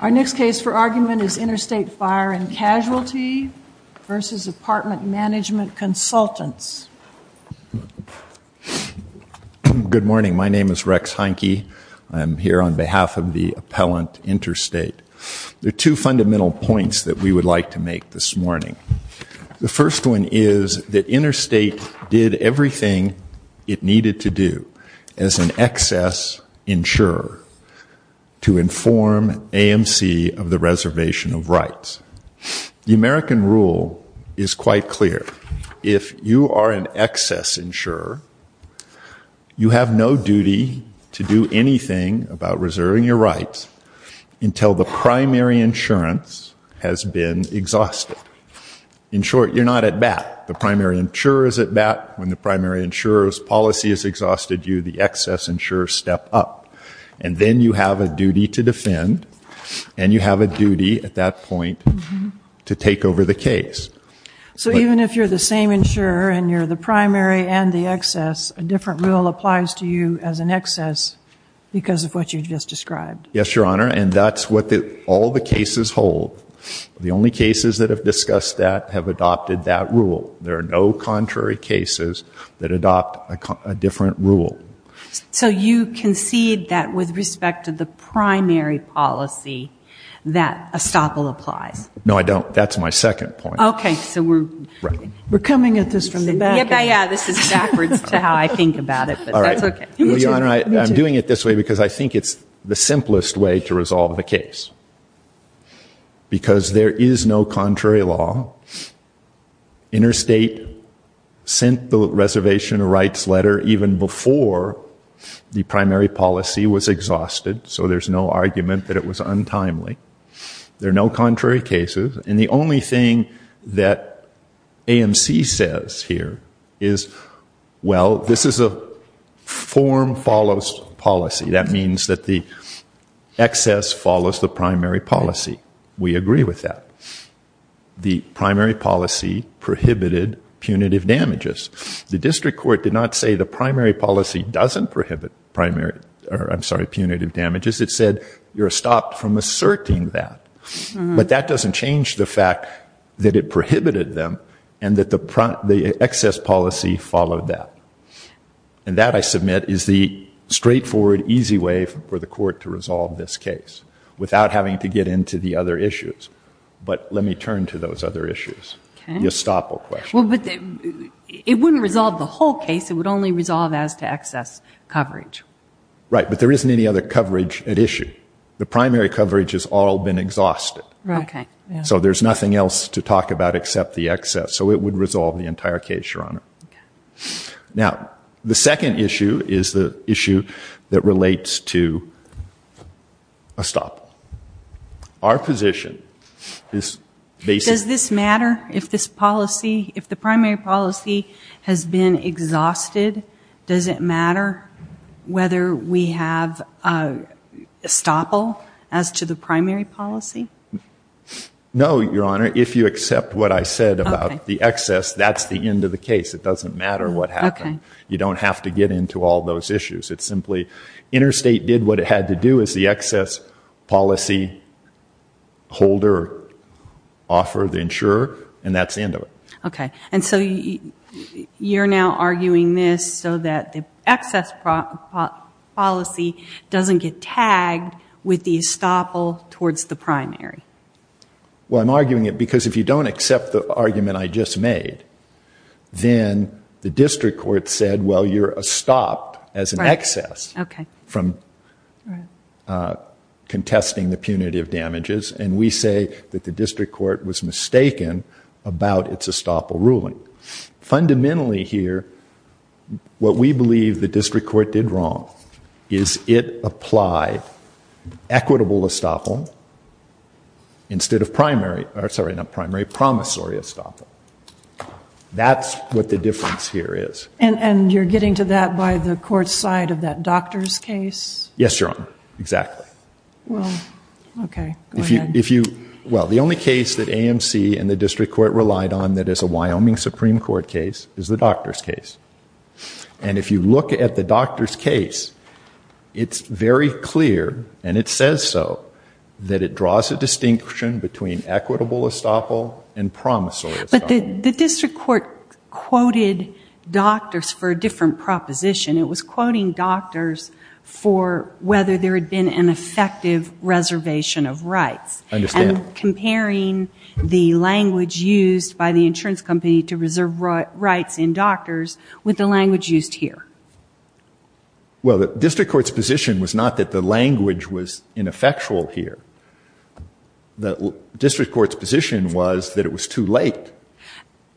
Our next case for argument is Interstate Fire & Casualty v. Apartment Management Consultants. Good morning. My name is Rex Heinke. I'm here on behalf of the Appellant Interstate. There are two fundamental points that we would like to make this morning. The first one is that Interstate did everything it needed to do as an excess insurer to inform AMC of the reservation of rights. The American rule is quite clear. If you are an excess insurer, you have no duty to do anything about reserving your rights until the primary insurance has been exhausted. In short, you're not at bat. The primary insurer is at bat. When the primary insurer's policy has exhausted you, the excess insurer steps up. And then you have a duty to defend, and you have a duty at that point to take over the case. So even if you're the same insurer and you're the primary and the excess, a different rule applies to you as an excess because of what you just described. Yes, Your Honor, and that's what all the cases hold. The only cases that have discussed that have adopted that rule. There are no contrary cases that adopt a different rule. So you concede that with respect to the primary policy that estoppel applies? No, I don't. That's my second point. Okay, so we're coming at this from the back end. Because there is no contrary law. Interstate sent the reservation rights letter even before the primary policy was exhausted. So there's no argument that it was untimely. There are no contrary cases, and the only thing that AMC says here is, well, this is a form follows policy. That means that the excess follows the primary policy. We agree with that. The primary policy prohibited punitive damages. The district court did not say the primary policy doesn't prohibit punitive damages. It said you're stopped from asserting that. But that doesn't change the fact that it prohibited them, and that the excess policy followed that. And that, I submit, is the straightforward, easy way for the court to resolve this case without having to get into the other issues. But let me turn to those other issues. The estoppel question. It wouldn't resolve the whole case. It would only resolve as to excess coverage. Right, but there isn't any other coverage at issue. The primary coverage has all been exhausted. So there's nothing else to talk about except the excess. So it would resolve the entire case, Your Honor. Now, the second issue is the issue that relates to estoppel. Our position is basically... Does this matter if the primary policy has been exhausted? Does it matter whether we have estoppel as to the primary policy? No, Your Honor. If you accept what I said about the excess, that's the end of the case. It doesn't matter what happened. You don't have to get into all those issues. Interstate did what it had to do, as the excess policy holder offered the insurer, and that's the end of it. You're now arguing this so that the excess policy doesn't get tagged with the estoppel towards the primary. Well, I'm arguing it because if you don't accept the argument I just made, then the district court said, well, you're estopped as an excess from contesting the punitive damages, and we say that the district court was mistaken about its estoppel ruling. Fundamentally here, what we believe the district court did wrong is it applied equitable estoppel instead of primary... Sorry, not primary, promissory estoppel. That's what the difference here is. And you're getting to that by the court's side of that doctor's case? Yes, Your Honor, exactly. Well, okay, go ahead. Well, the only case that AMC and the district court relied on that is a Wyoming Supreme Court case is the doctor's case. And if you look at the doctor's case, it's very clear, and it says so, that it draws a distinction between equitable estoppel and promissory estoppel. But the district court quoted doctors for a different proposition. It was quoting doctors for whether there had been an effective reservation of rights. I understand. And comparing the language used by the insurance company to reserve rights in doctors with the language used here. Well, the district court's position was not that the language was ineffectual here. The district court's position was that it was too late.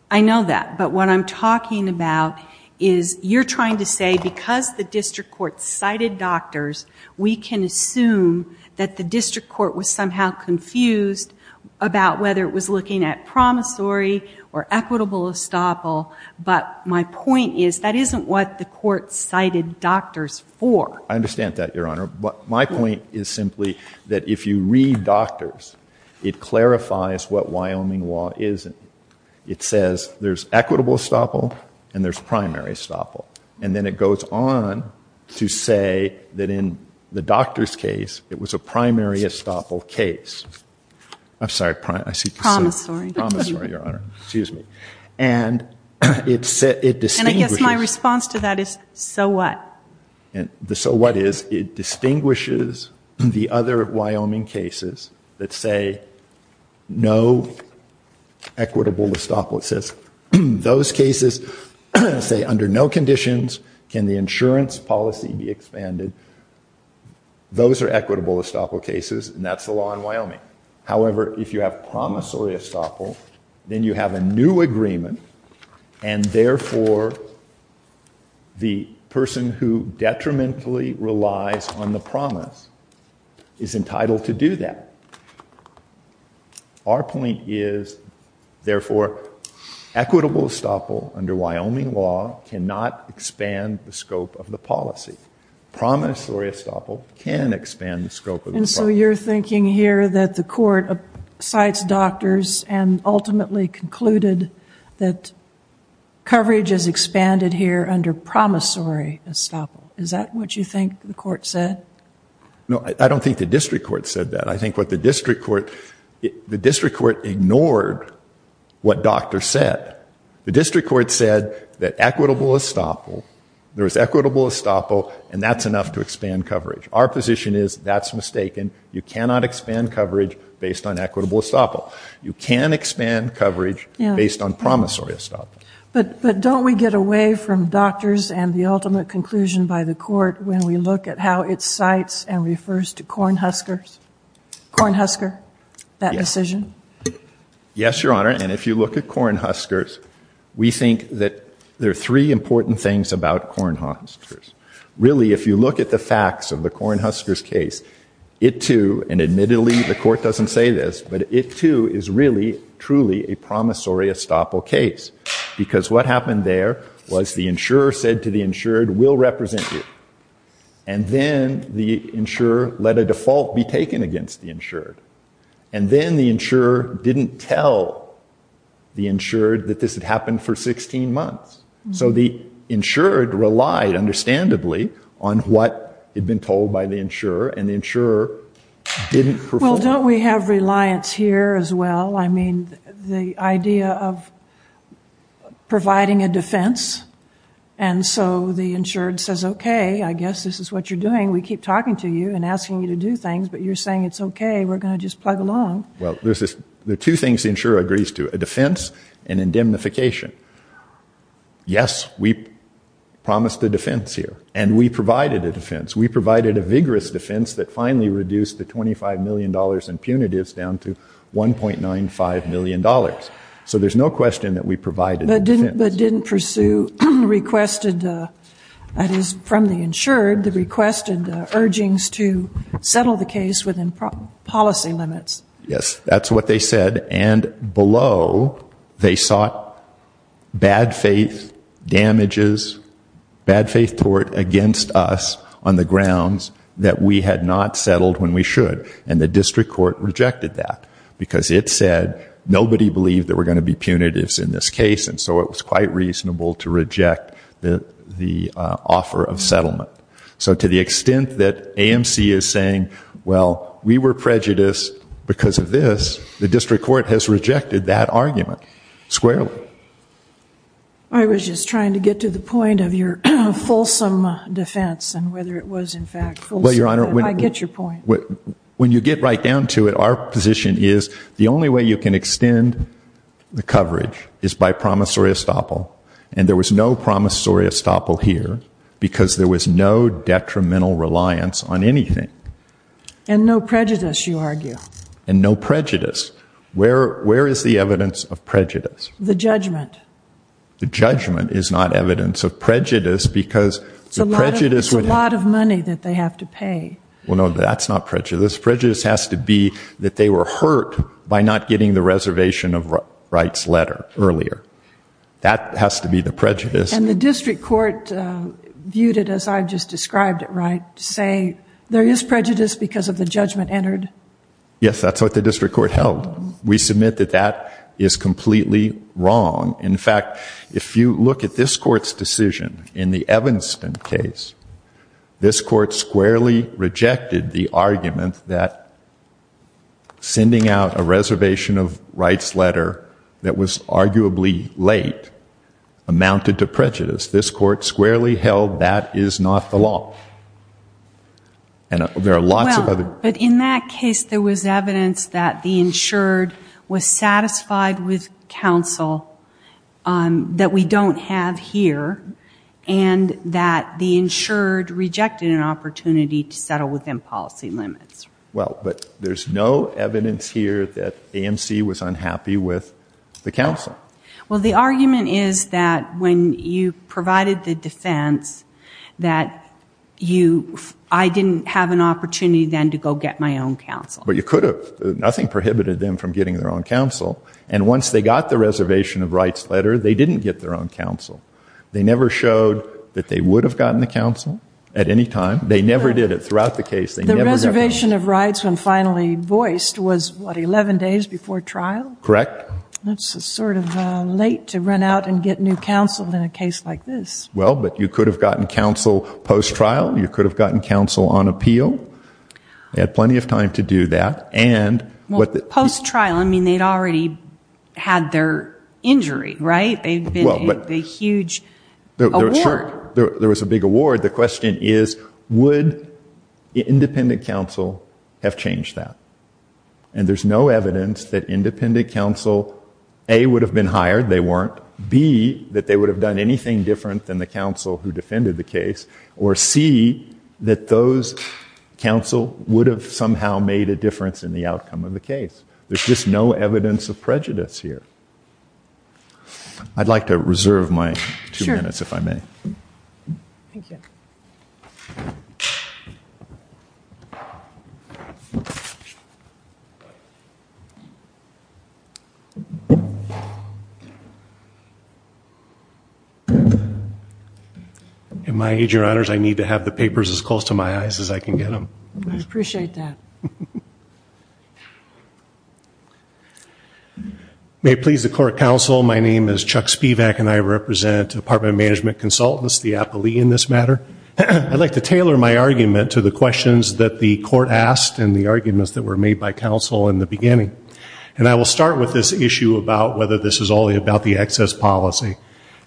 I know that, but what I'm talking about is you're trying to say because the district court cited doctors, we can assume that the district court was somehow confused about whether it was looking at promissory or equitable estoppel. But my point is that isn't what the court cited doctors for. I understand that, Your Honor, but my point is simply that if you read doctors, it clarifies what Wyoming law is. It says there's equitable estoppel and there's primary estoppel. And then it goes on to say that in the doctor's case, it was a primary estoppel case. I'm sorry, promissory, Your Honor. And I guess my response to that is, so what? So what is, it distinguishes the other Wyoming cases that say no equitable estoppel. It says those cases say under no conditions can the insurance policy be expanded. Those are equitable estoppel cases, and that's the law in Wyoming. However, if you have promissory estoppel, then you have a new agreement. And therefore, the person who detrimentally relies on the promise is entitled to do that. Our point is, therefore, equitable estoppel under Wyoming law cannot expand the scope of the policy. Promissory estoppel can expand the scope of the policy. And so you're thinking here that the court cites doctors and ultimately concluded that coverage is expanded here under promissory estoppel. Is that what you think the court said? No, I don't think the district court said that. I think what the district court, the district court ignored what doctors said. The district court said that equitable estoppel, there was equitable estoppel, and that's enough to expand coverage. Our position is that's mistaken. You cannot expand coverage based on equitable estoppel. You can expand coverage based on promissory estoppel. But don't we get away from doctors and the ultimate conclusion by the court when we look at how it cites and refers to Cornhuskers? Cornhusker, that decision? Yes, Your Honor, and if you look at Cornhuskers, we think that there are three important things about Cornhuskers. Really, if you look at the facts of the Cornhuskers case, it too, and admittedly the court doesn't say this, but it too is really, truly a promissory estoppel case. Because what happened there was the insurer said to the insured, we'll represent you. And then the insurer let a default be taken against the insured. And then the insurer didn't tell the insured that this had happened for 16 months. So the insured relied understandably on what had been told by the insurer, and the insurer didn't perform. Well, don't we have reliance here as well? I mean, the idea of providing a defense, and so the insured says, okay, I guess this is what you're doing. We keep talking to you and asking you to do things, but you're saying it's okay, we're going to just plug along. Well, there are two things the insurer agrees to, a defense and indemnification. Yes, we promised a defense here, and we provided a defense. We provided a vigorous defense that finally reduced the $25 million in punitives down to $1.95 million. So there's no question that we provided a defense. But didn't pursue requested, that is from the insured, the requested urgings to settle the case within policy limits. Yes, that's what they said, and below they sought bad faith damages, bad faith tort against us on the grounds that we had not settled when we should, and the district court rejected that because it said nobody believed there were going to be punitives in this case, and so it was quite reasonable to reject the offer of settlement. So to the extent that AMC is saying, well, we were prejudiced because of this, the district court has rejected that argument squarely. I was just trying to get to the point of your fulsome defense and whether it was in fact fulsome. I get your point. When you get right down to it, our position is the only way you can extend the coverage is by promissory estoppel, and there was no promissory estoppel here because there was no detrimental reliance on anything. And no prejudice, you argue. And no prejudice. Where is the evidence of prejudice? The judgment. The judgment is not evidence of prejudice because prejudice would have. There's a lot of money that they have to pay. Well, no, that's not prejudice. Prejudice has to be that they were hurt by not getting the reservation of rights letter earlier. That has to be the prejudice. And the district court viewed it as I just described it, right, to say there is prejudice because of the judgment entered. Yes, that's what the district court held. We submit that that is completely wrong. In fact, if you look at this court's decision in the Evanston case, this court squarely rejected the argument that sending out a reservation of rights letter that was arguably late amounted to prejudice. This court squarely held that is not the law. And there are lots of other. Well, but in that case there was evidence that the insured was satisfied with counsel that we don't have here and that the insured rejected an opportunity to settle within policy limits. Well, but there's no evidence here that AMC was unhappy with the counsel. Well, the argument is that when you provided the defense that I didn't have an opportunity then to go get my own counsel. But you could have. Nothing prohibited them from getting their own counsel. And once they got the reservation of rights letter, they didn't get their own counsel. They never showed that they would have gotten the counsel at any time. They never did it throughout the case. The reservation of rights when finally voiced was what, 11 days before trial? Correct. That's sort of late to run out and get new counsel in a case like this. Well, but you could have gotten counsel post-trial. You could have gotten counsel on appeal. They had plenty of time to do that. Well, post-trial, I mean, they'd already had their injury, right? There was a big award. The question is, would independent counsel have changed that? And there's no evidence that independent counsel, A, would have been hired. They weren't. B, that they would have done anything different than the counsel who defended the case. Or C, that those counsel would have somehow made a difference in the outcome of the case. There's just no evidence of prejudice here. I'd like to reserve my two minutes, if I may. In my age, Your Honors, I need to have the papers as close to my eyes as I can get them. I appreciate that. May it please the court, counsel, my name is Chuck Spivak, and I represent apartment management consultants, the appellee in this matter. I'd like to tailor my argument to the questions that the court asked and the arguments that were made by counsel in the beginning. And I will start with this issue about whether this is only about the excess policy.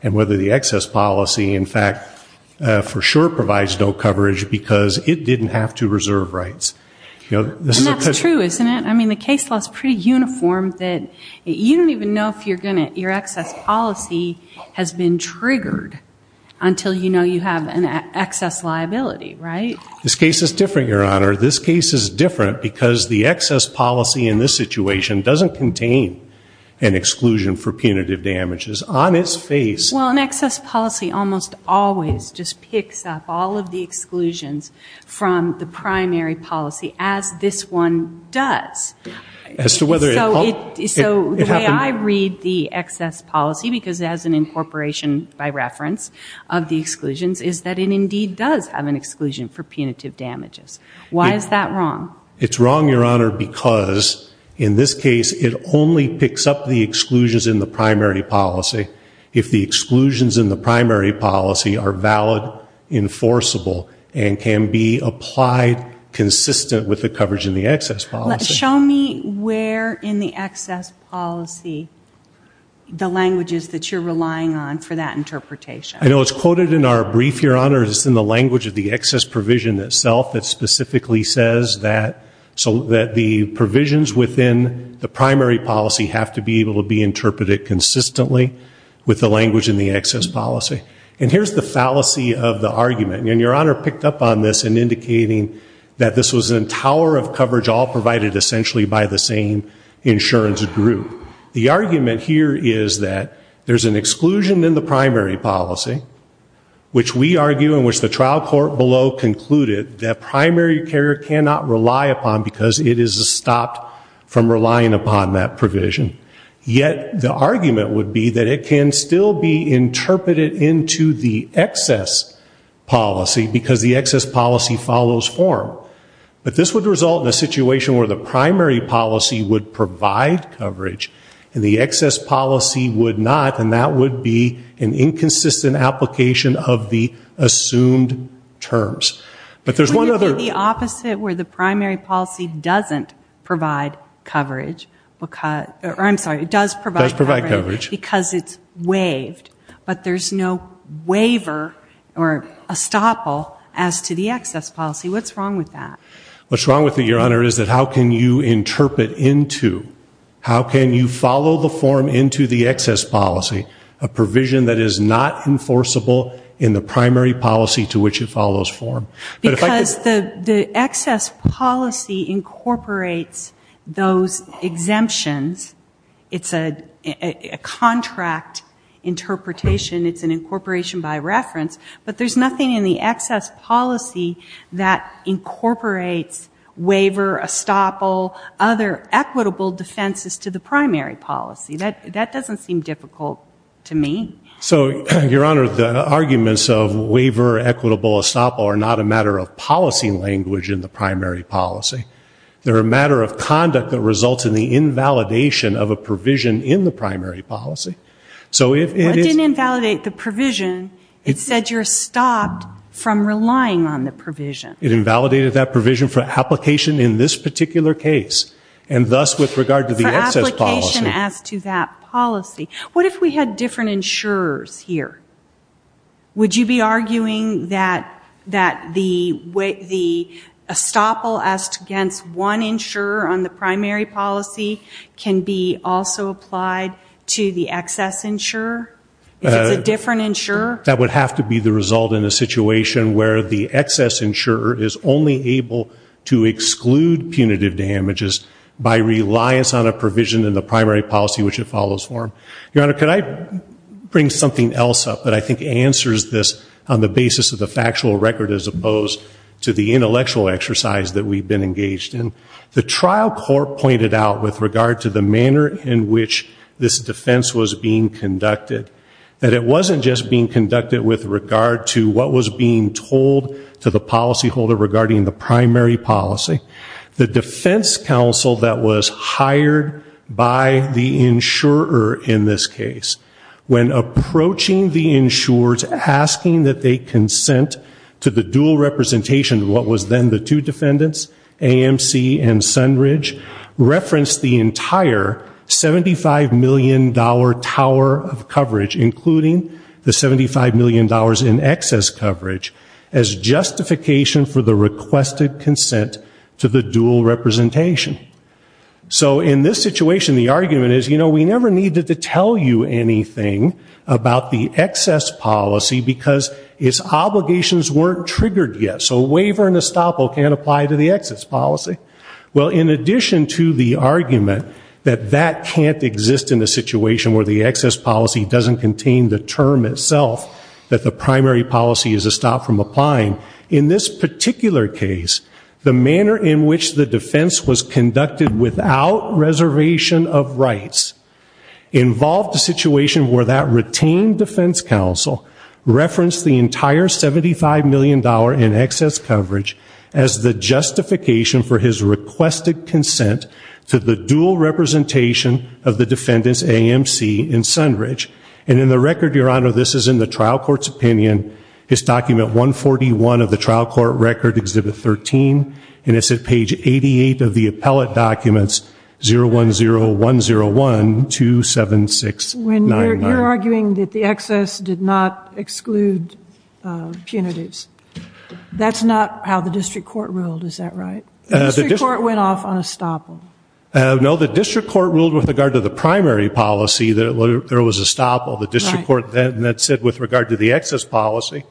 And whether the excess policy, in fact, for sure provides no coverage, because it didn't have to reserve rights. And that's true, isn't it? I mean, the case law is pretty uniform that you don't even know if your excess policy has been triggered until you know you have an excess liability, right? This case is different, Your Honor. This case is different because the excess policy in this situation doesn't contain an exclusion for punitive damages on its face. Well, an excess policy almost always just picks up all of the exclusions from the primary policy, as this one does. So the way I read the excess policy, because it has an incorporation by reference of the exclusions, is that it indeed does have an exclusion for punitive damages. Why is that wrong? It's wrong, Your Honor, because in this case it only picks up the exclusions in the primary policy if the exclusions in the primary policy are valid, enforceable, and can be applied consistent with the coverage in the excess policy. Show me where in the excess policy the language is that you're relying on for that interpretation. I know it's quoted in our brief, Your Honor, it's in the language of the excess provision itself that specifically says that the provisions within the primary policy have to be able to be interpreted consistently with the language in the excess policy. And here's the fallacy of the argument, and Your Honor picked up on this in indicating that this was a tower of coverage all provided essentially by the same insurance group. The argument here is that there's an exclusion in the primary policy, which we argue and which the trial court below concluded that primary carrier cannot rely upon because it is stopped from relying upon that provision. Yet the argument would be that it can still be interpreted into the excess policy because the excess policy follows form. But this would result in a situation where the primary policy would provide coverage and the excess policy would not, and that would be an inconsistent application of the assumed terms. Would you put the opposite where the primary policy doesn't provide coverage? I'm sorry, it does provide coverage because it's waived, but there's no waiver or estoppel as to the excess policy. What's wrong with that? What's wrong with it, Your Honor, is that how can you interpret into, how can you follow the form into the excess policy, a provision that is not enforceable in the primary policy to which it follows form? Because the excess policy incorporates those exemptions. It's a contract interpretation. It's an incorporation by reference, but there's nothing in the excess policy that incorporates waiver, estoppel, other equitable defenses to the primary policy. That doesn't seem difficult to me. So, Your Honor, the arguments of waiver, equitable estoppel are not a matter of policy language in the primary policy. They're a matter of conduct that results in the invalidation of a provision in the primary policy. What didn't invalidate the provision? It said you're stopped from relying on the provision. It invalidated that provision for application in this particular case. And thus, with regard to the excess policy. For application as to that policy, what if we had different insurers here? Would you be arguing that the estoppel as against one insurer on the primary policy can be also applied to the excess insurer? If it's a different insurer? That would have to be the result in a situation where the excess insurer is only able to exclude punitive damages by reliance on a provision in the primary policy which it follows from. Your Honor, could I bring something else up that I think answers this on the basis of the factual record as opposed to the intellectual exercise that we've been engaged in? The trial court pointed out with regard to the manner in which this defense was being conducted, that it wasn't just being conducted with regard to what was being told to the policyholder regarding the primary policy. The defense counsel that was hired by the insurer in this case, when approaching the insurers asking that they consent to the dual representation of what was then the two $75 million tower of coverage, including the $75 million in excess coverage, as justification for the requested consent to the dual representation. So in this situation, the argument is, you know, we never needed to tell you anything about the excess policy because its obligations weren't triggered yet. So a waiver and estoppel can't apply to the excess policy. Well, in addition to the argument that that can't exist in a situation where the excess policy doesn't contain the term itself that the primary policy is a stop from applying, in this particular case, the manner in which the defense was conducted without reservation of rights involved a situation where that retained defense counsel referenced the entire $75 million in excess coverage as the justification for his requested consent to the dual representation of the defendant's AMC in Sunridge. And in the record, Your Honor, this is in the trial court's opinion. It's document 141 of the trial court record, exhibit 13, and it's at page 88 of the appellate documents 01010127699. When you're arguing that the excess did not exclude punitives, that's not how the district court ruled, is that right? The district court went off on estoppel. No, the district court ruled with regard to the primary policy that there was estoppel. The district court then said with regard to the excess policy,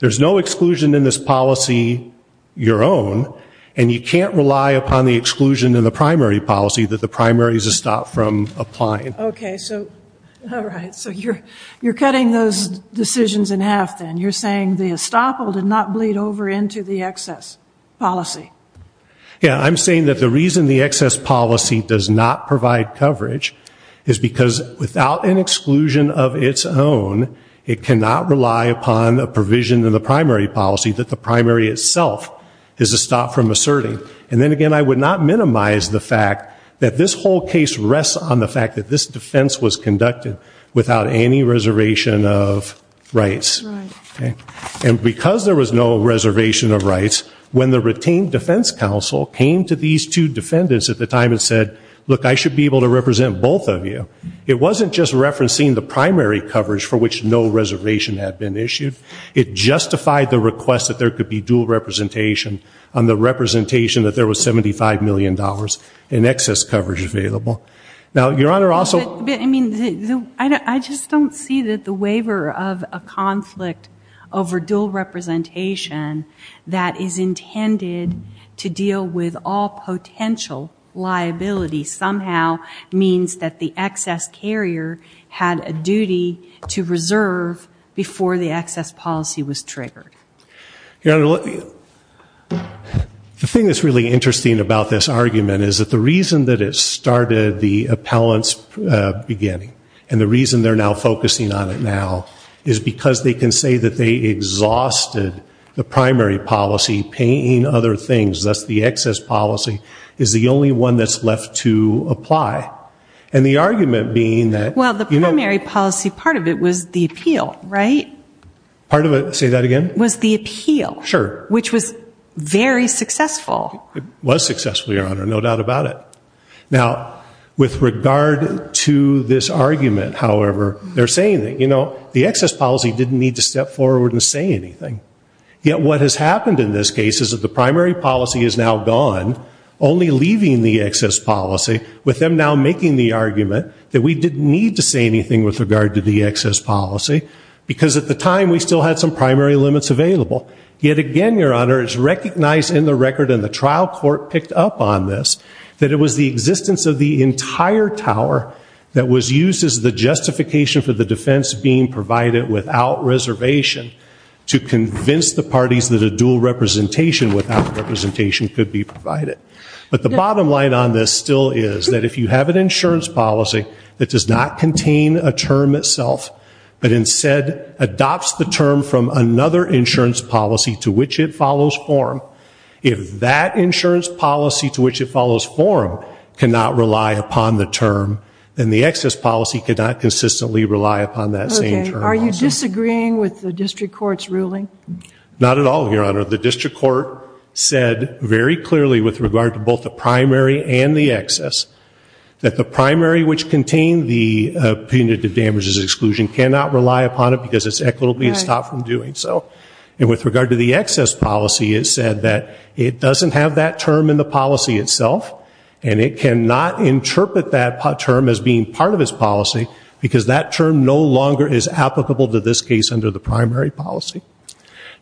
there's no exclusion in this policy your own, and you can't rely upon the All right. So you're cutting those decisions in half then. You're saying the estoppel did not bleed over into the excess policy. Yeah, I'm saying that the reason the excess policy does not provide coverage is because without an exclusion of its own, it cannot rely upon a provision in the primary policy that the primary itself is a stop from asserting. And then again, I would not minimize the fact that this whole case rests on the fact that this defense was conducted without any reservation of rights. And because there was no reservation of rights, when the retained defense counsel came to these two defendants at the time and said, look, I should be able to represent both of you, it wasn't just referencing the primary coverage for which no reservation had been issued. It justified the request that there could be dual representation on the representation that there was $75 million in excess coverage available. Now, your Honor, also... I mean, I just don't see that the waiver of a conflict over dual representation that is intended to deal with all potential liability somehow means that the excess carrier had a duty to reserve before the excess policy was triggered. Your Honor, the thing that's really interesting about this argument is that the reason that it started the appellant's beginning and the reason they're now focusing on it now is because they can say that they exhausted the primary policy paying other things, thus the excess policy is the only one that's left to apply. And the argument being that... Well, the primary policy, part of it was the appeal, right? Part of it, say that again? Was the appeal. Sure. Which was very successful. It was successful, Your Honor, no doubt about it. Now, with regard to this argument, however, they're saying that the excess policy didn't need to step forward and say anything. Yet what has happened in this case is that the primary policy is now gone, only leaving the excess policy with them now making the argument that we didn't need to say anything with regard to the excess policy, because at the time we still had some primary limits available. Yet again, Your Honor, it's recognized in the record, and the trial court picked up on this, that it was the existence of the entire tower that was used as the justification for the defense being provided without reservation to convince the parties that a dual representation without representation could be provided. But the bottom line on this still is that if you have an insurance policy that does not contain a term itself, but instead adopts the term from another insurance policy to which it follows form, if that insurance policy to which it follows form cannot rely upon the term, then the excess policy cannot consistently rely upon that same term. Are you disagreeing with the district court's ruling? Not at all, Your Honor. The district court said very clearly with regard to both the primary and the excess that the primary, which contained the punitive damages exclusion, cannot rely upon it because it's equitably stopped from doing so. And with regard to the excess policy, it said that it doesn't have that term in the policy itself, and it cannot interpret that term as being part of its policy because that term no longer is applicable to this case under the primary policy.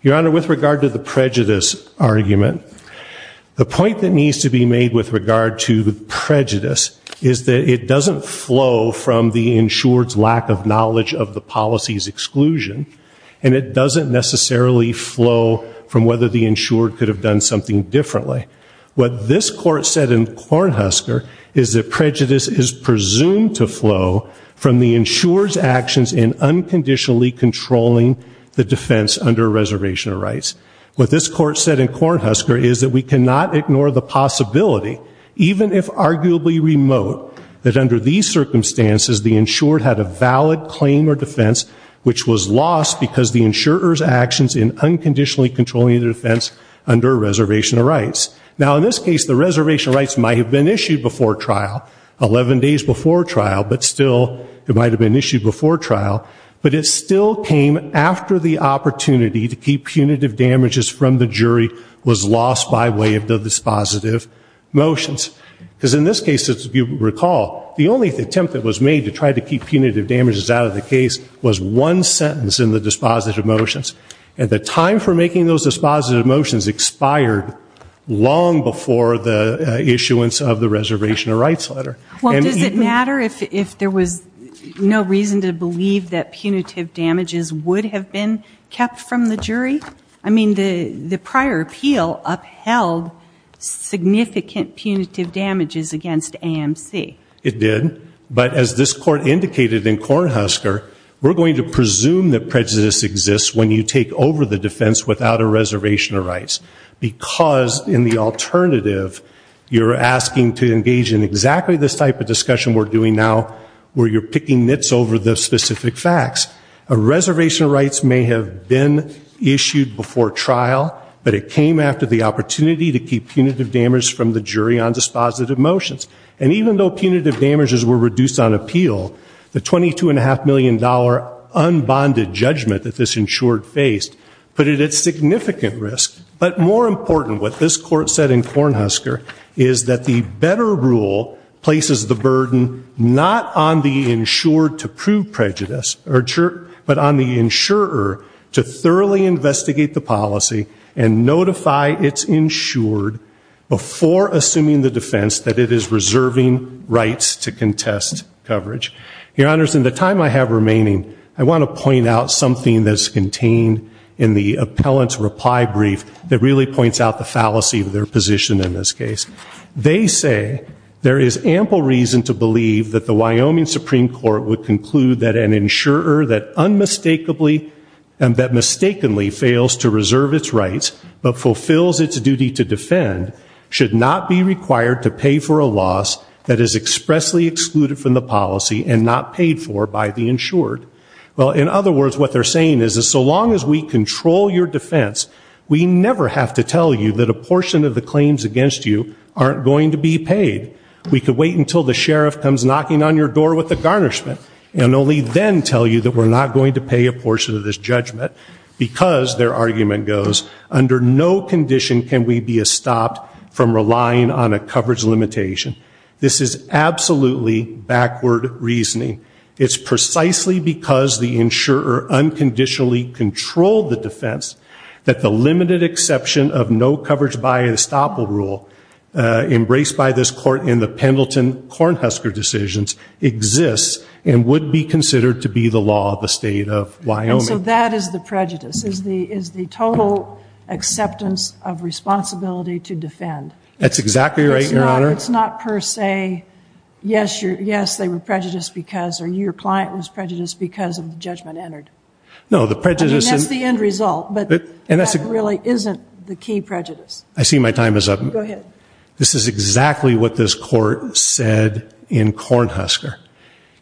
Your Honor, with regard to the prejudice argument, the point that needs to be made with regard to prejudice is that it doesn't flow from the insured's lack of knowledge of the policy's exclusion, and it doesn't necessarily flow from whether the insured could have done something differently. What this court said in Kornhusker is that prejudice is presumed to flow from the insured's actions in unconditionally controlling the defense under a reservation of rights. What this court said in Kornhusker is that we cannot ignore the possibility, even if arguably remote, that prejudice is lost because the insurer's actions in unconditionally controlling the defense under a reservation of rights. Now, in this case, the reservation of rights might have been issued before trial, 11 days before trial, but still it might have been issued before trial, but it still came after the opportunity to keep punitive damages from the jury was lost by way of the dispositive motions. Because in this case, as you recall, the only attempt that was made to try to keep punitive damages out of the case was one sentence in the dispositive motions, and the time for making those dispositive motions expired long before the issuance of the reservation of rights letter. Well, does it matter if there was no reason to believe that punitive damages would have been kept from the jury? I mean, the prior appeal upheld significant punitive damages against AMC. It did. But as this court indicated in Kornhusker, we're going to presume that prejudice exists when you take over the defense without a reservation of rights. Because in the alternative, you're asking to engage in exactly this type of discussion we're doing now, where you're picking mitts over the specific facts. A reservation of rights may have been issued before trial, but it came after the opportunity to keep punitive damage from the jury on dispositive motions. And even though punitive damages were reduced on appeal, the $22.5 million unbonded judgment that this insured faced put it at significant risk. But more important, what this court said in Kornhusker, is that the better rule places the burden not on the insured to prove prejudice, but on the insurer to thoroughly investigate the policy and notify its insured before assuming the defense that it is reserving rights to contest coverage. Your Honors, in the time I have remaining, I want to point out something that's contained in the appellant's reply brief that really points out the fallacy of their position in this case. They say, there is ample reason to believe that the Wyoming Supreme Court would conclude that an insurer that unmistakably and that mistakenly fails to reserve its rights, but fulfills its duty to defend, should not be required to pay for a loss that is expressly excluded from the policy and not paid for by the insured. Well, in other words, what they're saying is that so long as we control your defense, we never have to tell you that a portion of the claims against you aren't going to be paid. We could wait until the sheriff comes knocking on your door with a garnishment and only then tell you that we're not going to pay a portion of this judgment because, their argument goes, under no condition can we be stopped from relying on a coverage limitation. This is absolutely backward reasoning. It's precisely because the insurer unconditionally controlled the defense that the limited exception of no coverage by estoppel rule embraced by this court in the Pendleton-Cornhusker decisions exists and would be considered to be the law of the state of Wyoming. And so that is the prejudice, is the total acceptance of responsibility to defend. That's exactly right, Your Honor. It's not per se, yes, they were prejudiced because, or your client was prejudiced because of the judgment entered. No, the prejudice... I mean, that's the end result, but that really isn't the key prejudice. I see my time is up. This is exactly what this court said in Cornhusker.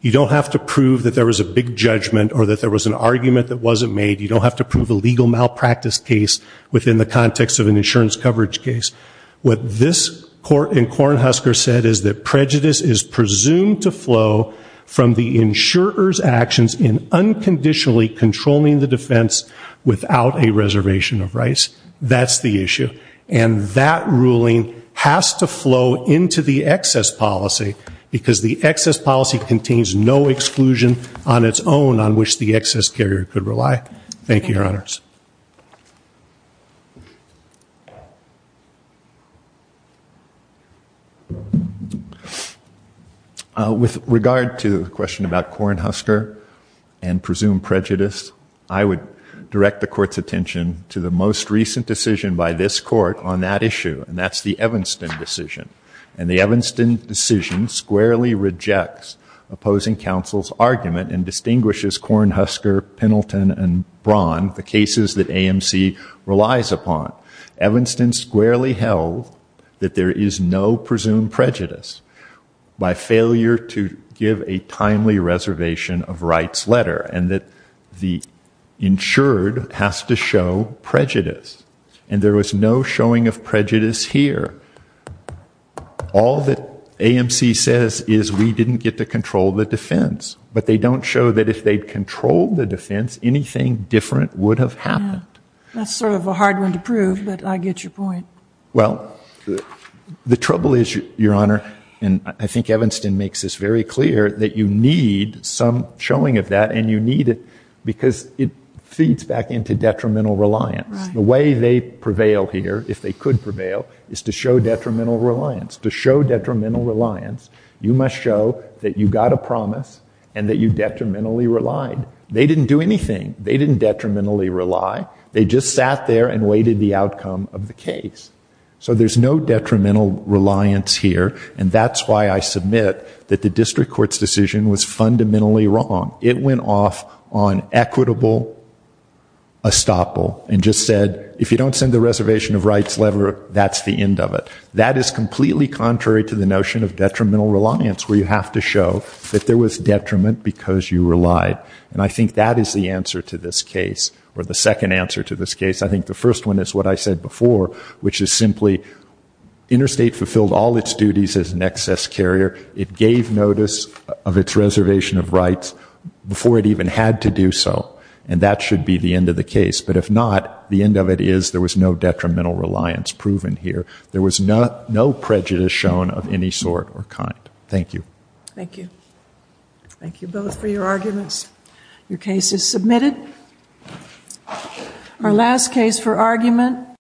You don't have to prove that there was a big judgment or that there was an argument that wasn't made. You don't have to prove a legal malpractice case within the context of an insurance coverage case. What this court in Cornhusker said is that prejudice is presumed to flow from the insurer's actions in unconditionally controlling the defense without a reservation of rights. That's the issue. And that ruling has to flow into the excess policy because the excess policy contains no exclusion on its own on which the excess carrier could rely. Thank you, Your Honors. With regard to the question about Cornhusker and presumed prejudice, I would direct the court's attention to the most recent decision by this court on that issue, and that's the Evanston decision. And the Evanston decision squarely rejects opposing counsel's argument and distinguishes Cornhusker, Pendleton, and Braun, the cases that AMC relies upon. Evanston squarely held that there is no presumed prejudice by failure to give a timely reservation of rights letter and that the insured has to show prejudice. And there was no showing of prejudice here. All that AMC says is we didn't get to control the defense, but they don't show that if they'd controlled the defense, anything different would have happened. That's sort of a hard one to prove, but I get your point. Well, the trouble is, Your Honor, and I think Evanston makes this very clear, that you need some showing of that and you need it because it feeds back into detrimental reliance. The way they prevail here, if they could prevail, is to show detrimental reliance. To show detrimental reliance, you must show that you got a promise and that you detrimentally relied. They didn't do anything. They didn't detrimentally rely. They just sat there and waited the outcome of the case. So there's no detrimental reliance here. And that's why I submit that the district court's decision was fundamentally wrong. It went off on equitable estoppel and just said if you don't send the reservation of rights letter, that's the end of it. That is completely contrary to the notion of detrimental reliance, where you have to show that there was detriment because you relied. And I think that is the answer to this case, or the second answer to this case. The state fulfilled all its duties as an excess carrier. It gave notice of its reservation of rights before it even had to do so. And that should be the end of the case. But if not, the end of it is there was no detrimental reliance proven here. There was no prejudice shown of any sort or kind. Thank you. Thank you. Thank you both for your arguments. Your case is submitted. Our last case for argument.